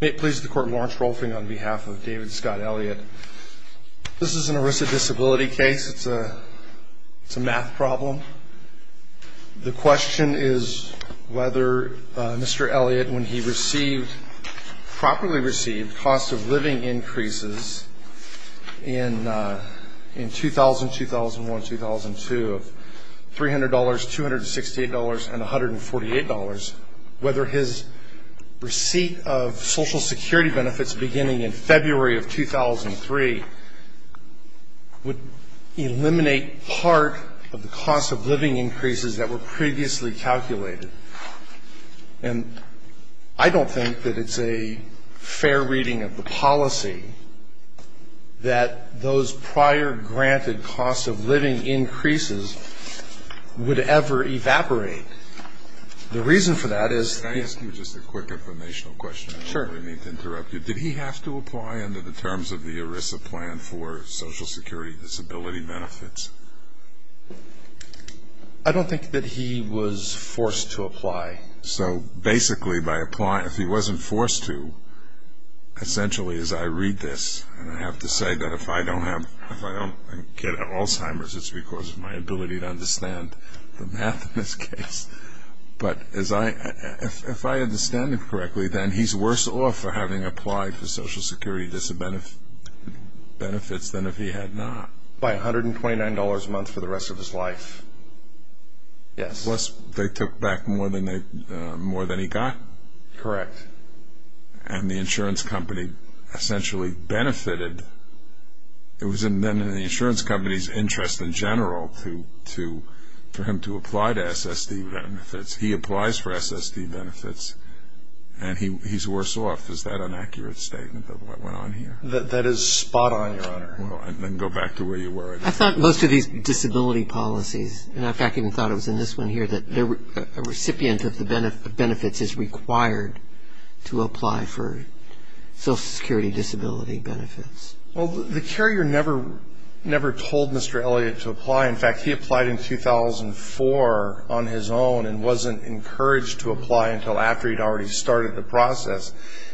May it please the Court, Lawrence Rolfing on behalf of David Scott Elliot. This is an erisic disability case. It's a math problem. The question is whether Mr. Elliot, when he received, properly received, cost of living increases in 2000, 2001, 2002 of $300, $268 and $148, whether his receipt of Social Security benefits beginning in February of 2003 would eliminate part of the cost of living increases that were previously calculated. And I don't think that it's a fair reading of the policy that those prior granted cost of living increases would ever evaporate. The reason for that is... Can I ask you just a quick informational question? Sure. I don't really mean to interrupt you. Did he have to apply under the terms of the ERISA plan for Social Security disability benefits? I don't think that he was forced to apply. So basically by applying, if he wasn't forced to, essentially as I read this, and I have to say that if I don't get Alzheimer's, it's because of my ability to understand the math in this case, but if I understand it correctly, then he's worse off for having applied for Social Security disability benefits than if he had not. By $129 a month for the rest of his life. Yes. Plus they took back more than he got. Correct. And the insurance company essentially benefited. It was then in the insurance company's interest in general for him to apply to SSD benefits. He applies for SSD benefits and he's worse off. Is that an accurate statement of what went on here? That is spot on, Your Honor. Then go back to where you were. I thought most of these disability policies, and in fact I even thought it was in this one here, that a recipient of the benefits is required to apply for Social Security disability benefits. Well, the carrier never told Mr. Elliott to apply. In fact, he applied in 2004 on his own and wasn't encouraged to apply until after he'd already started the process.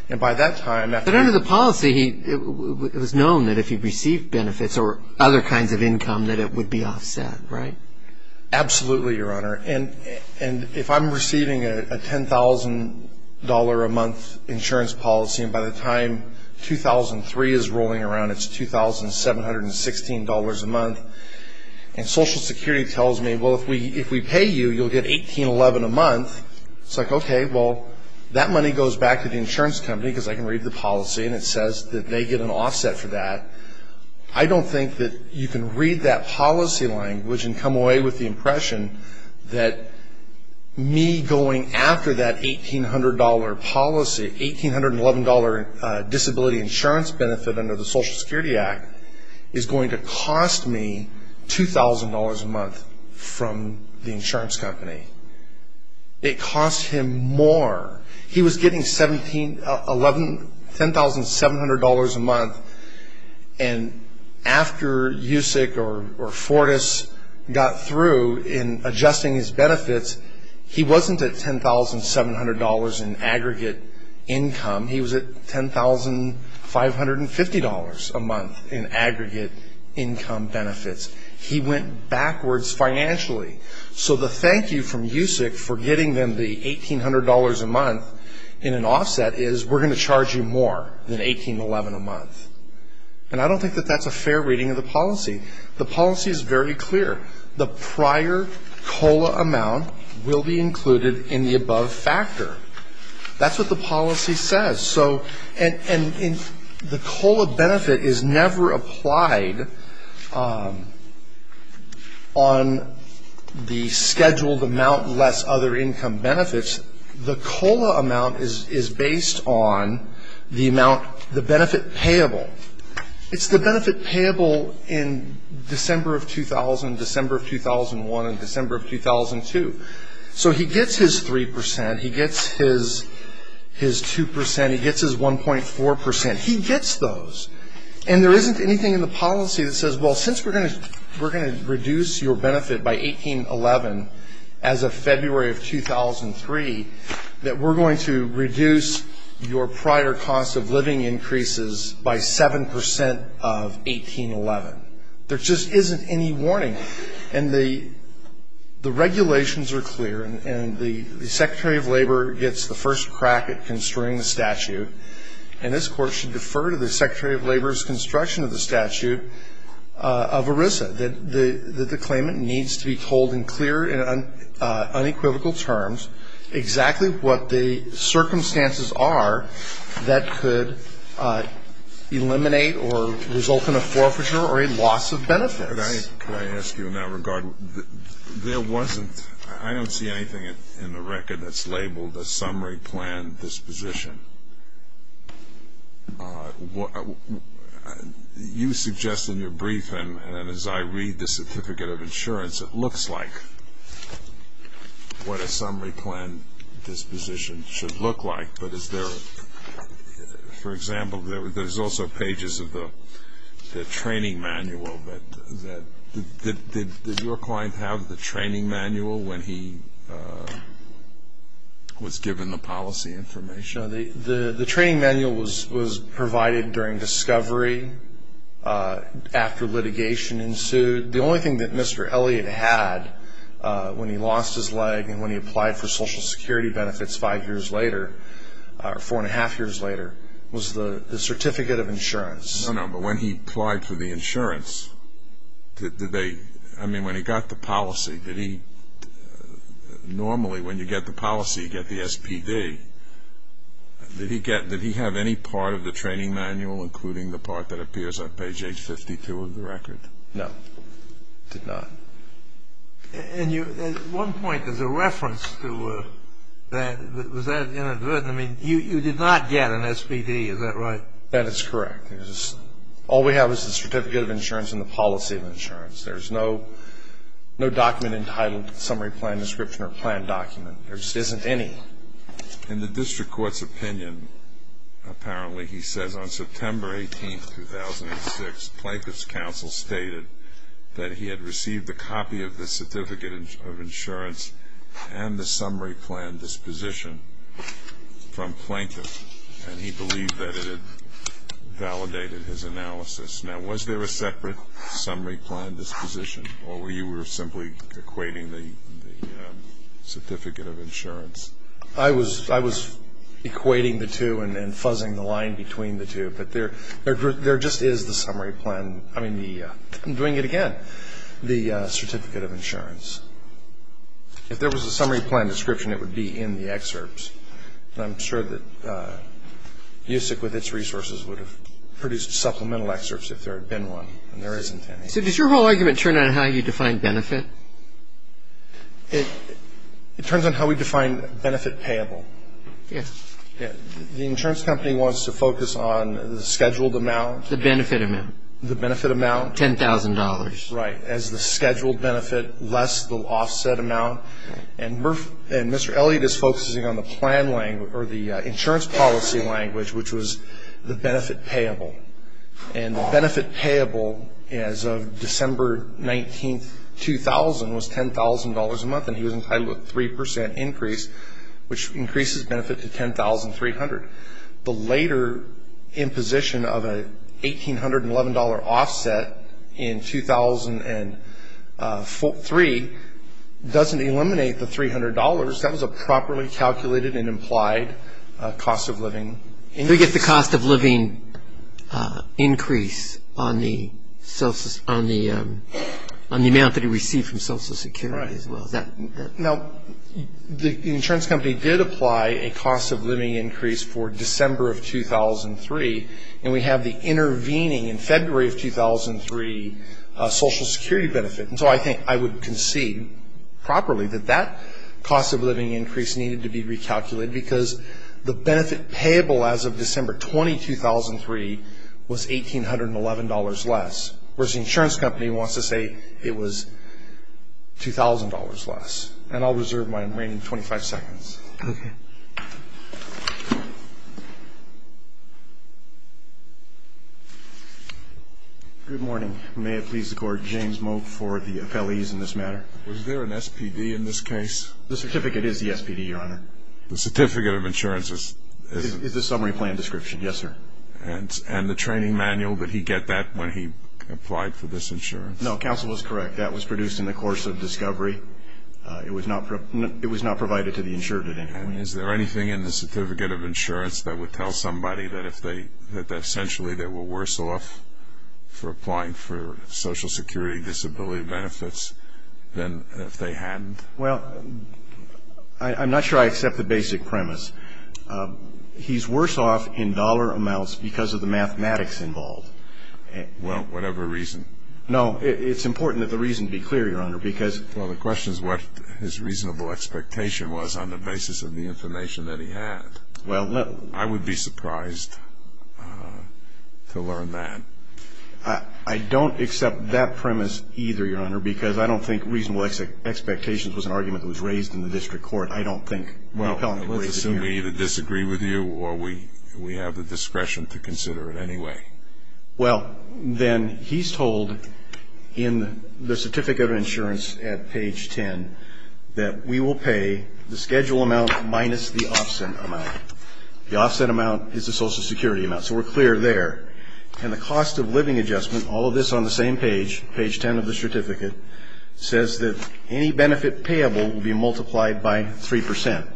But under the policy, it was known that if he received benefits or other kinds of income, that it would be offset, right? Absolutely, Your Honor. And if I'm receiving a $10,000 a month insurance policy, and by the time 2003 is rolling around, it's $2,716 a month, and Social Security tells me, well, if we pay you, you'll get $1,811 a month, it's like, okay, well, that money goes back to the insurance company because I can read the policy and it says that they get an offset for that. I don't think that you can read that policy language and come away with the impression that me going after that $1,800 policy, $1,811 disability insurance benefit under the Social Security Act, is going to cost me $2,000 a month from the insurance company. It costs him more. He was getting $10,700 a month, and after USIC or Fortis got through in adjusting his benefits, he wasn't at $10,700 in aggregate income. He was at $10,550 a month in aggregate income benefits. He went backwards financially. So the thank you from USIC for getting them the $1,800 a month in an offset is, we're going to charge you more than $1,811 a month. And I don't think that that's a fair reading of the policy. The policy is very clear. The prior COLA amount will be included in the above factor. That's what the policy says. And the COLA benefit is never applied on the scheduled amount less other income benefits. The COLA amount is based on the benefit payable. It's the benefit payable in December of 2000, December of 2001, and December of 2002. So he gets his 3 percent. He gets his 2 percent. He gets his 1.4 percent. He gets those. And there isn't anything in the policy that says, well, since we're going to reduce your benefit by 1811 as of February of 2003, that we're going to reduce your prior cost of living increases by 7 percent of 1811. There just isn't any warning. And the regulations are clear, and the Secretary of Labor gets the first crack at construing the statute. And this Court should defer to the Secretary of Labor's construction of the statute of ERISA, that the claimant needs to be told in clear and unequivocal terms exactly what the circumstances are that could eliminate or result in a forfeiture or a loss of benefits. Could I ask you in that regard, there wasn't, I don't see anything in the record that's labeled a summary plan disposition. You suggest in your brief, and as I read the certificate of insurance, it looks like what a summary plan disposition should look like. But is there, for example, there's also pages of the training manual that did your client have the training manual when he was given the policy information? The training manual was provided during discovery after litigation ensued. The only thing that Mr. Elliott had when he lost his leg and when he applied for Social Security benefits five years later, four and a half years later, was the certificate of insurance. No, no. But when he applied for the insurance, did they, I mean, when he got the policy, did he, normally when you get the policy, you get the SPD. Did he get, did he have any part of the training manual, including the part that appears on page H52 of the record? No. Did not. And you, at one point, there's a reference to that. Was that inadvertent? I mean, you did not get an SPD, is that right? That is correct. All we have is the certificate of insurance and the policy of insurance. There's no document entitled summary plan description or plan document. There just isn't any. In the district court's opinion, apparently, he says on September 18, 2006, Plaintiff's counsel stated that he had received a copy of the certificate of insurance and the summary plan disposition from Plaintiff, and he believed that it had validated his analysis. Now, was there a separate summary plan disposition, or were you simply equating the certificate of insurance? I was equating the two and then fuzzing the line between the two. But there just is the summary plan. I mean, I'm doing it again, the certificate of insurance. If there was a summary plan description, it would be in the excerpts. And I'm sure that USIC, with its resources, would have produced supplemental excerpts if there had been one, and there isn't any. So does your whole argument turn on how you define benefit? It turns on how we define benefit payable. Yes. The insurance company wants to focus on the scheduled amount. The benefit amount. The benefit amount. $10,000. Right. As the scheduled benefit, less the offset amount. And Mr. Elliott is focusing on the insurance policy language, which was the benefit payable. And the benefit payable as of December 19, 2000, was $10,000 a month, and he was entitled to a 3% increase, which increases benefit to $10,300. The later imposition of an $1,811 offset in 2003 doesn't eliminate the $300. That was a properly calculated and implied cost of living. We get the cost of living increase on the amount that he received from Social Security as well. Right. Now, the insurance company did apply a cost of living increase for December of 2003, and we have the intervening in February of 2003 Social Security benefit. And so I think I would concede properly that that cost of living increase needed to be recalculated because the benefit payable as of December 20, 2003, was $1,811 less, whereas the insurance company wants to say it was $2,000 less. And I'll reserve my remaining 25 seconds. Okay. Good morning. May it please the Court, James Moak for the appellees in this matter. Was there an SPD in this case? The certificate is the SPD, Your Honor. The certificate of insurance is the summary plan description. Yes, sir. And the training manual, did he get that when he applied for this insurance? No, counsel is correct. That was produced in the course of discovery. It was not provided to the insurer at any point. And is there anything in the certificate of insurance that would tell somebody that essentially they were worse off for applying for Social Security disability benefits than if they hadn't? Well, I'm not sure I accept the basic premise. He's worse off in dollar amounts because of the mathematics involved. Well, whatever reason. No, it's important that the reason be clear, Your Honor, because... Well, the question is what his reasonable expectation was on the basis of the information that he had. I would be surprised to learn that. I don't accept that premise either, Your Honor, because I don't think reasonable expectations was an argument that was raised in the district court. I don't think... Well, let's assume we either disagree with you or we have the discretion to consider it anyway. Well, then he's told in the certificate of insurance at page 10 that we will pay the schedule amount minus the offset amount. The offset amount is the Social Security amount, so we're clear there. And the cost of living adjustment, all of this on the same page, page 10 of the certificate, says that any benefit payable will be multiplied by 3%.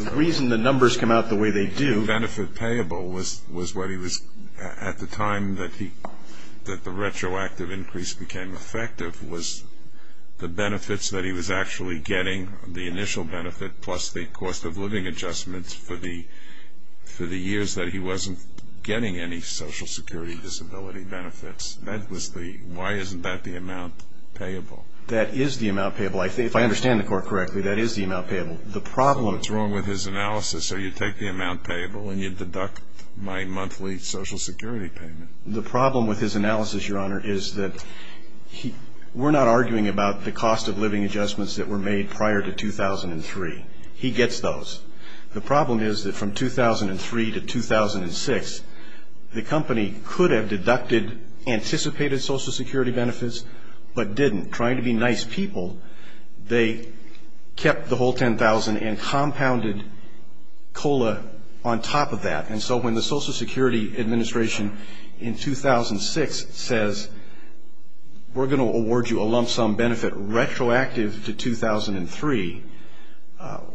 The reason the numbers come out the way they do... The benefit payable was what he was... At the time that the retroactive increase became effective was the benefits that he was actually getting, the initial benefit plus the cost of living adjustments for the years that he wasn't getting any Social Security disability benefits. That was the... Why isn't that the amount payable? That is the amount payable. If I understand the court correctly, that is the amount payable. The problem... What's wrong with his analysis? So you take the amount payable and you deduct my monthly Social Security payment. The problem with his analysis, Your Honor, is that we're not arguing about the cost of living adjustments that were made prior to 2003. He gets those. The problem is that from 2003 to 2006, the company could have deducted anticipated Social Security benefits, but didn't. Trying to be nice people, they kept the whole $10,000 and compounded COLA on top of that. And so when the Social Security Administration in 2006 says, we're going to award you a lump sum benefit retroactive to 2003,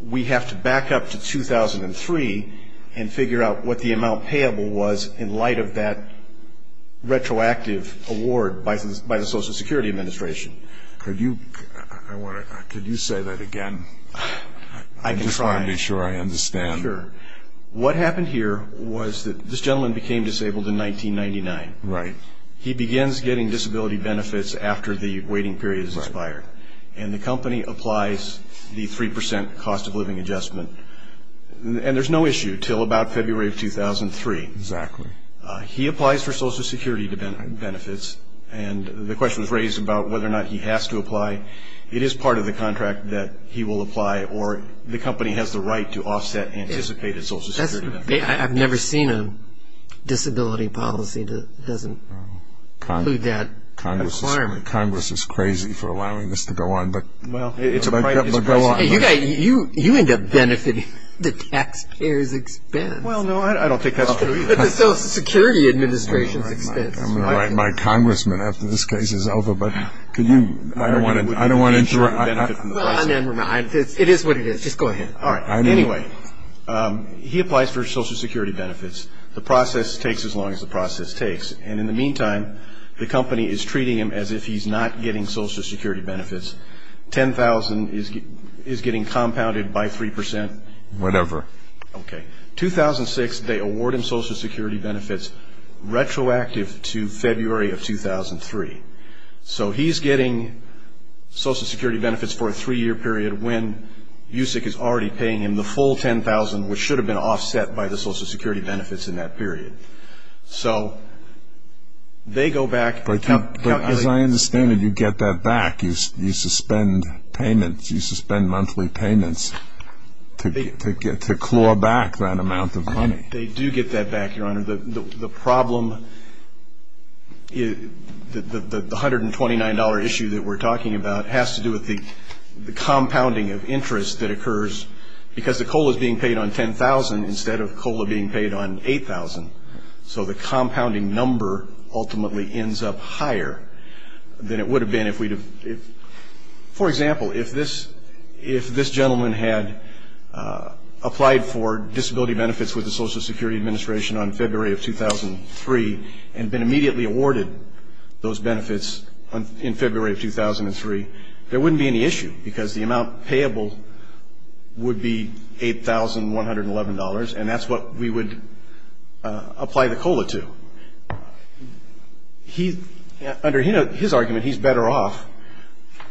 we have to back up to 2003 and figure out what the amount payable was in light of that retroactive award by the Social Security Administration. Could you say that again? I can try. I just want to be sure I understand. Sure. What happened here was that this gentleman became disabled in 1999. Right. He begins getting disability benefits after the waiting period is expired. Right. And the company applies the 3% cost of living adjustment. And there's no issue until about February of 2003. Exactly. He applies for Social Security benefits, and the question was raised about whether or not he has to apply. It is part of the contract that he will apply, or the company has the right to offset anticipated Social Security benefits. I've never seen a disability policy that doesn't include that requirement. Congress is crazy for allowing this to go on, but go on. You end up benefiting the taxpayer's expense. Well, no, I don't think that's true either. The Social Security Administration's expense. I'm going to write my congressman after this case is over, but I don't want to interrupt. It is what it is. Just go ahead. All right. Anyway, he applies for Social Security benefits. The process takes as long as the process takes. And in the meantime, the company is treating him as if he's not getting Social Security benefits. $10,000 is getting compounded by 3%. Whatever. Okay. 2006, they award him Social Security benefits retroactive to February of 2003. So he's getting Social Security benefits for a three-year period when USEC is already paying him the full $10,000, which should have been offset by the Social Security benefits in that period. So they go back. But as I understand it, you get that back. You suspend payments. You suspend monthly payments to claw back that amount of money. They do get that back, Your Honor. The problem, the $129 issue that we're talking about has to do with the compounding of interest that occurs, because the COLA is being paid on $10,000 instead of COLA being paid on $8,000. So the compounding number ultimately ends up higher than it would have been if we'd have. For example, if this gentleman had applied for disability benefits with the Social Security Administration on February of 2003 and been immediately awarded those benefits in February of 2003, there wouldn't be any issue, because the amount payable would be $8,111, and that's what we would apply the COLA to. Under his argument, he's better off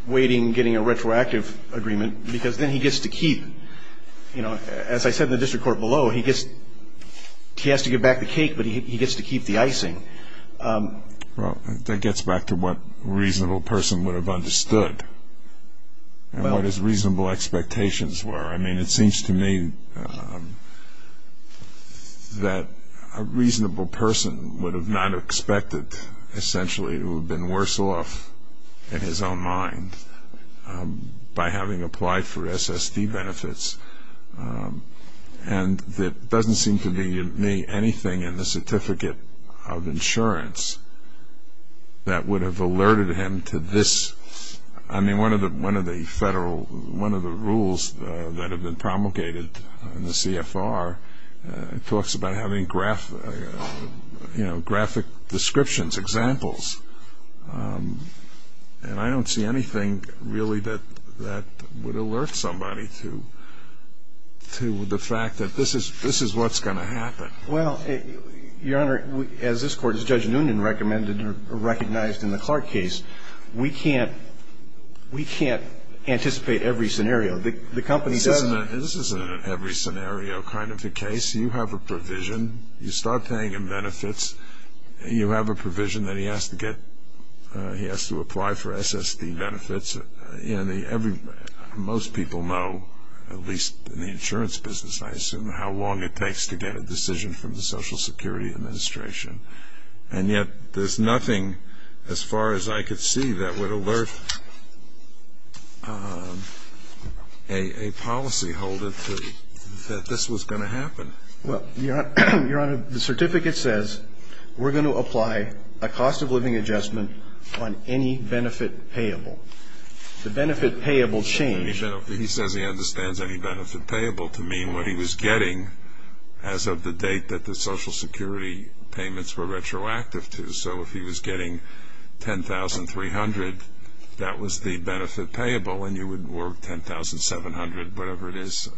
waiting, getting a retroactive agreement, because then he gets to keep, you know, as I said in the district court below, he has to give back the cake, but he gets to keep the icing. Well, that gets back to what a reasonable person would have understood and what his reasonable expectations were. I mean, it seems to me that a reasonable person would have not expected, essentially, to have been worse off in his own mind by having applied for SSD benefits, and there doesn't seem to be anything in the certificate of insurance that would have alerted him to this. I mean, one of the rules that have been promulgated in the CFR talks about having graphic descriptions, examples, and I don't see anything really that would alert somebody to the fact that this is what's going to happen. Well, Your Honor, as this Court, as Judge Noonan recognized in the Clark case, we can't anticipate every scenario. This isn't an every scenario kind of a case. You have a provision. You start paying him benefits. You have a provision that he has to apply for SSD benefits. Most people know, at least in the insurance business, I assume, how long it takes to get a decision from the Social Security Administration, and yet there's nothing, as far as I could see, that would alert a policyholder to that this was going to happen. Well, Your Honor, the certificate says, we're going to apply a cost-of-living adjustment on any benefit payable. The benefit payable change. He says he understands any benefit payable to mean what he was getting as of the date that the Social Security payments were retroactive to. So if he was getting $10,300, that was the benefit payable, and you would work $10,700, whatever it is,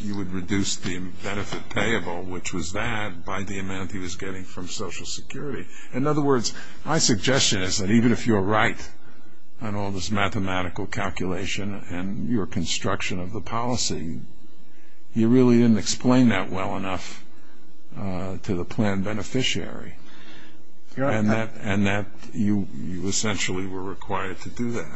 you would reduce the benefit payable, which was that, by the amount he was getting from Social Security. In other words, my suggestion is that even if you're right on all this mathematical calculation and your construction of the policy, you really didn't explain that well enough to the plan beneficiary, and that you essentially were required to do that.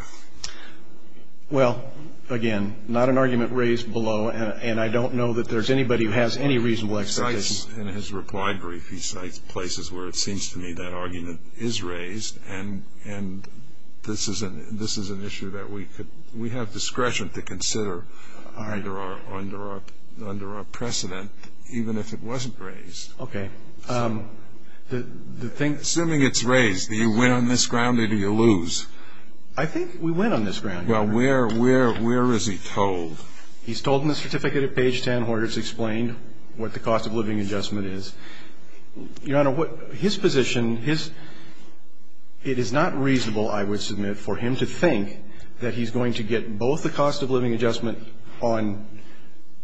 Well, again, not an argument raised below, and I don't know that there's anybody who has any reasonable expectation. He cites, in his reply brief, he cites places where it seems to me that argument is raised, and this is an issue that we have discretion to consider under our precedent, even if it wasn't raised. Okay. Assuming it's raised, do you win on this ground or do you lose? I think we win on this ground. Well, where is he told? He's told in the certificate at page 10 where it's explained what the cost of living adjustment is. Your Honor, his position, it is not reasonable, I would submit, for him to think that he's going to get both the cost of living adjustment on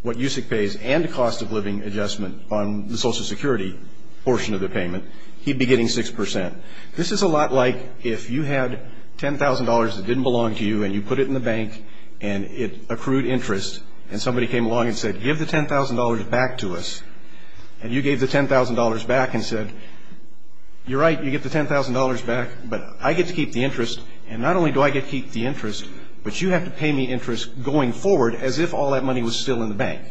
what USEC pays and the cost of living adjustment on the Social Security portion of the payment. He'd be getting 6 percent. This is a lot like if you had $10,000 that didn't belong to you and you put it in the bank and it accrued interest and somebody came along and said, give the $10,000 back to us, and you gave the $10,000 back and said, you're right, you get the $10,000 back, but I get to keep the interest, and not only do I get to keep the interest, but you have to pay me interest going forward as if all that money was still in the bank.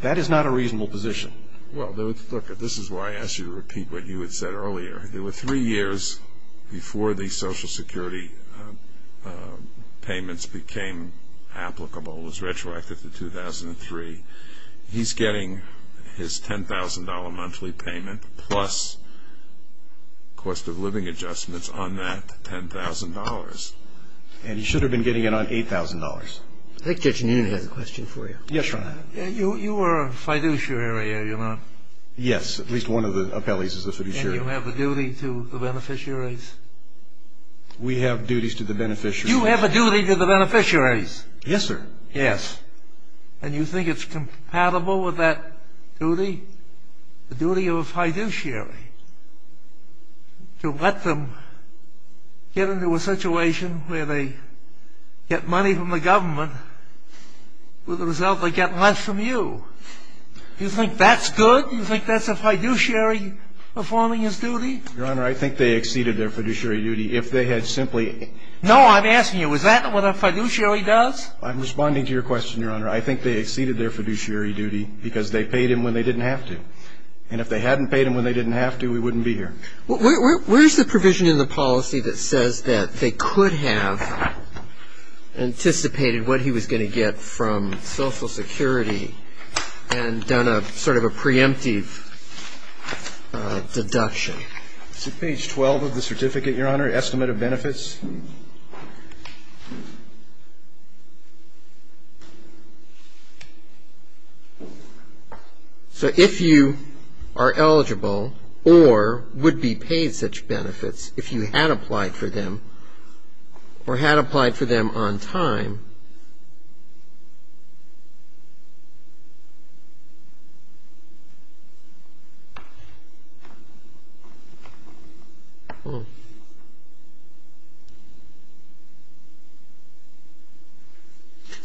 That is not a reasonable position. Well, look, this is why I asked you to repeat what you had said earlier. There were three years before the Social Security payments became applicable. It was retroactive to 2003. He's getting his $10,000 monthly payment plus cost of living adjustments on that $10,000, and he should have been getting it on $8,000. I think Judge Newman has a question for you. Yes, Your Honor. You are a fiduciary, are you not? Yes, at least one of the appellees is a fiduciary. And you have a duty to the beneficiaries? We have duties to the beneficiaries. You have a duty to the beneficiaries? Yes, sir. Yes. And you think it's compatible with that duty, the duty of a fiduciary, to let them get into a situation where they get money from the government, with the result they get less from you? You think that's good? You think that's a fiduciary performing his duty? Your Honor, I think they exceeded their fiduciary duty. If they had simply ---- No, I'm asking you, is that what a fiduciary does? I'm responding to your question, Your Honor. I think they exceeded their fiduciary duty because they paid him when they didn't have to. And if they hadn't paid him when they didn't have to, we wouldn't be here. Where's the provision in the policy that says that they could have anticipated what he was going to get from Social Security and done sort of a preemptive deduction? Is it page 12 of the certificate, Your Honor, estimate of benefits? So if you are eligible or would be paid such benefits if you had applied for them or had applied for them on time.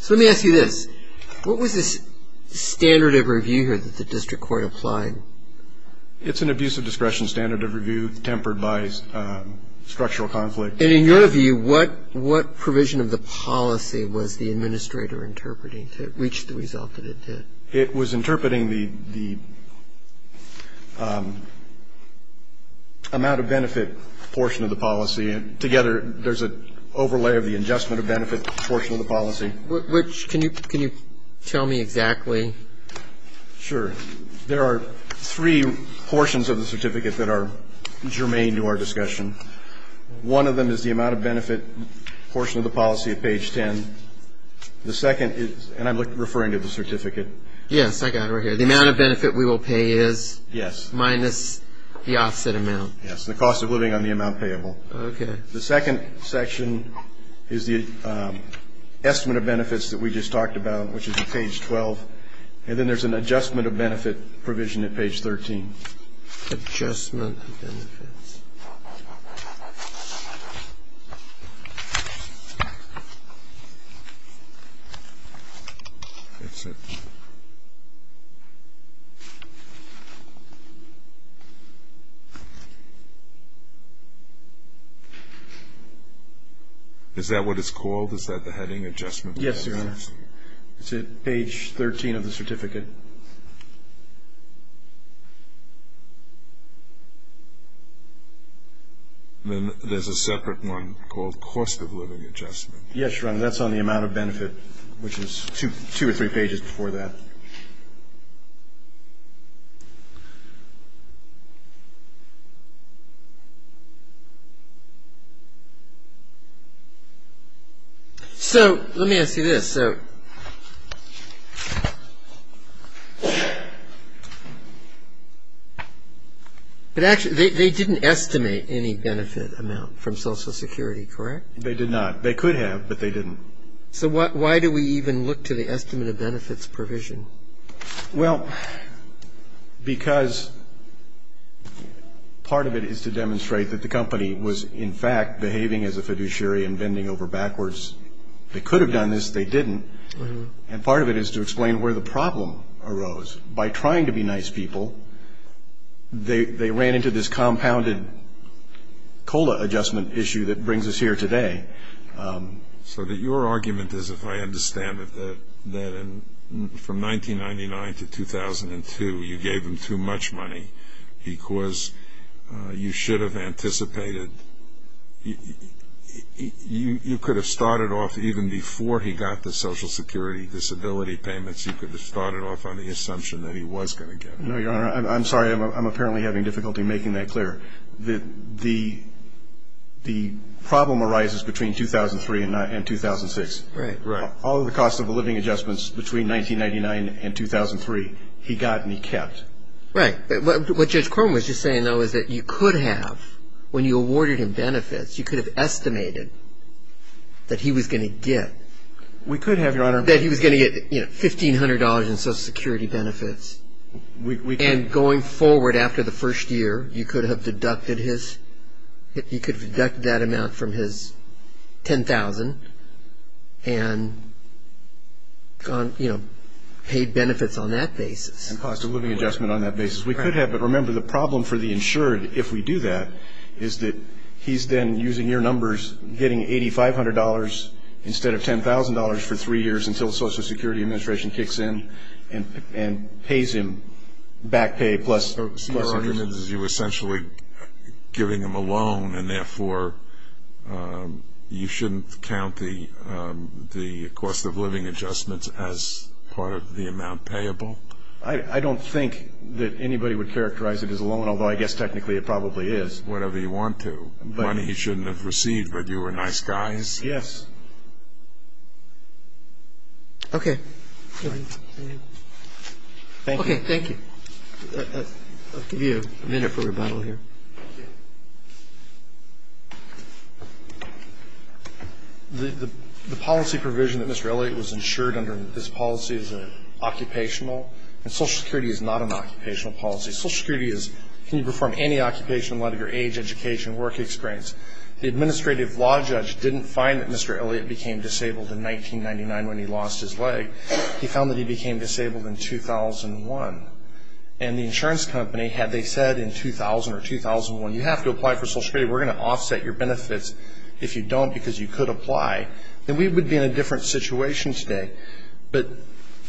So let me ask you this. What was this standard of review here that the district court applied? It's an abuse of discretion standard of review tempered by structural conflict. And in your view, what provision of the policy was the administrator interpreting to reach the result that it did? It was interpreting the amount of benefit portion of the policy. Together, there's an overlay of the adjustment of benefit portion of the policy. Which can you tell me exactly? Sure. There are three portions of the certificate that are germane to our discussion. One of them is the amount of benefit portion of the policy at page 10. The second is, and I'm referring to the certificate. Yes, I got it right here. The amount of benefit we will pay is? Yes. Minus the offset amount. Yes, the cost of living on the amount payable. Okay. The second section is the estimate of benefits that we just talked about, which is at page 12. And then there's an adjustment of benefit provision at page 13. Adjustment of benefits. Is that what it's called? Is that the heading? Adjustment of benefits? Yes, Your Honor. It's at page 13 of the certificate. Then there's a separate one called cost of living adjustment. Yes, Your Honor. That's on the amount of benefit, which is two or three pages before that. So let me ask you this. So they didn't estimate any benefit amount from Social Security, correct? They did not. They could have, but they didn't. So why do we even look to the estimate of benefits provision? Well, because part of it is to demonstrate that the company was, in fact, behaving as a fiduciary and bending over backwards. They could have done this. They didn't. And part of it is to explain where the problem arose. By trying to be nice people, they ran into this compounded COLA adjustment issue that brings us here today. So your argument is, if I understand it, that from 1999 to 2002, you gave them too much money because you should have anticipated. You could have started off even before he got the Social Security disability payments. You could have started off on the assumption that he was going to get it. No, Your Honor. I'm sorry. I'm apparently having difficulty making that clear. The problem arises between 2003 and 2006. Right. Right. All of the cost of the living adjustments between 1999 and 2003, he got and he kept. Right. What Judge Crone was just saying, though, is that you could have, when you awarded him benefits, you could have estimated that he was going to get. We could have, Your Honor. That he was going to get, you know, $1,500 in Social Security benefits. And going forward after the first year, you could have deducted his, you could have deducted that amount from his $10,000 and, you know, paid benefits on that basis. And cost of living adjustment on that basis. We could have. But remember, the problem for the insured, if we do that, is that he's then using your numbers getting $8,500 instead of $10,000 for three years until the Social Security Administration kicks in and pays him back pay plus interest. So your argument is you're essentially giving him a loan and therefore you shouldn't count the cost of living adjustments as part of the amount payable? I don't think that anybody would characterize it as a loan, although I guess technically it probably is. Whatever you want to. Money he shouldn't have received, but you were nice guys? Yes. Okay. Thank you. Okay. Thank you. I'll give you a minute for rebuttal here. Thank you. The policy provision that Mr. Elliott was insured under in this policy is an occupational, and Social Security is not an occupational policy. Social Security is can you perform any occupation, whether you're age, education, work experience. The administrative law judge didn't find that Mr. Elliott became disabled in 1999 when he lost his leg. He found that he became disabled in 2001. And the insurance company, had they said in 2000 or 2001, you have to apply for Social Security, we're going to offset your benefits if you don't because you could apply, then we would be in a different situation today. But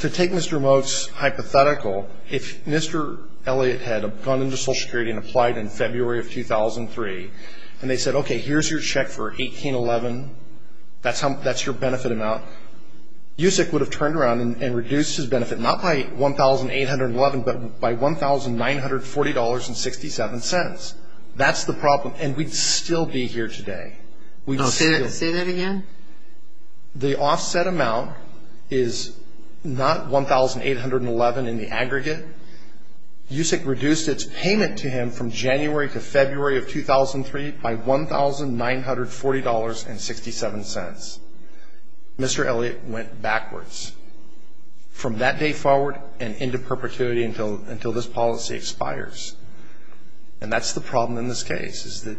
to take Mr. Moat's hypothetical, if Mr. Elliott had gone into Social Security and applied in February of 2003, and they said, okay, here's your check for 1811, that's your benefit amount, USEC would have turned around and reduced his benefit, not by 1811, but by $1,940.67. That's the problem, and we'd still be here today. Say that again? The offset amount is not 1811 in the aggregate. USEC reduced its payment to him from January to February of 2003 by $1,940.67. Mr. Elliott went backwards from that day forward and into perpetuity until this policy expires. And that's the problem in this case is that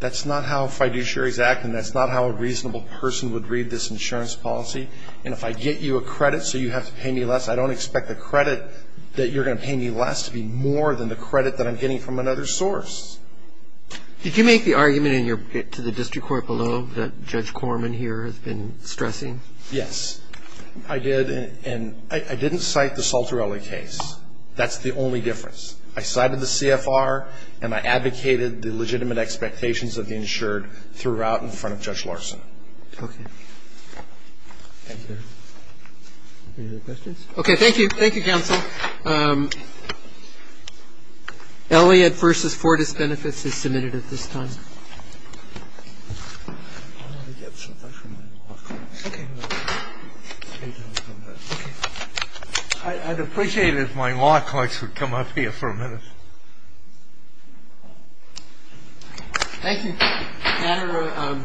that's not how fiduciaries act and that's not how a reasonable person would read this insurance policy. And if I get you a credit so you have to pay me less, I don't expect the credit that you're going to pay me less to be more than the credit that I'm getting from another source. Did you make the argument to the district court below that Judge Corman here has been stressing? Yes, I did. And I didn't cite the Saltorelli case. That's the only difference. I cited the CFR and I advocated the legitimate expectations of the insured throughout in front of Judge Larson. Okay. Okay, thank you. Thank you, counsel. Elliott v. Fortis Benefits is submitted at this time. I'd appreciate it if my law clerks would come up here for a minute. Thank you. Manner of Disclosure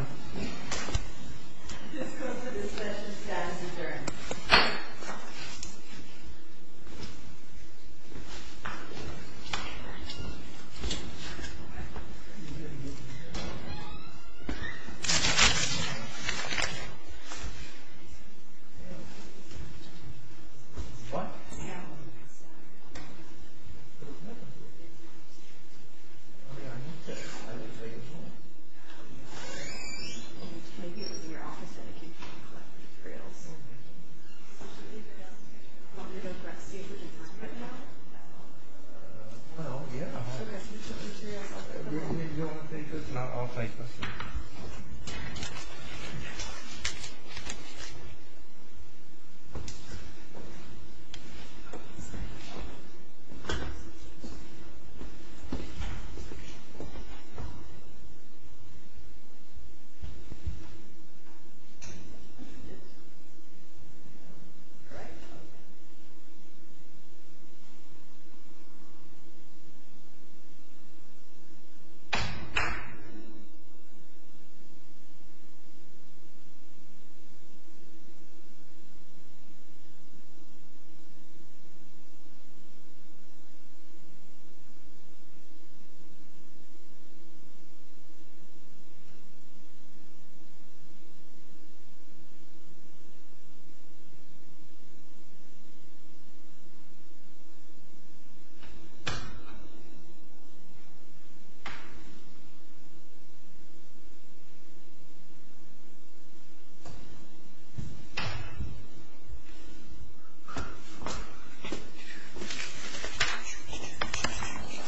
of Dispension of Status Insurance. Thank you. Thank you. Yes. All right. All right. All right. All right.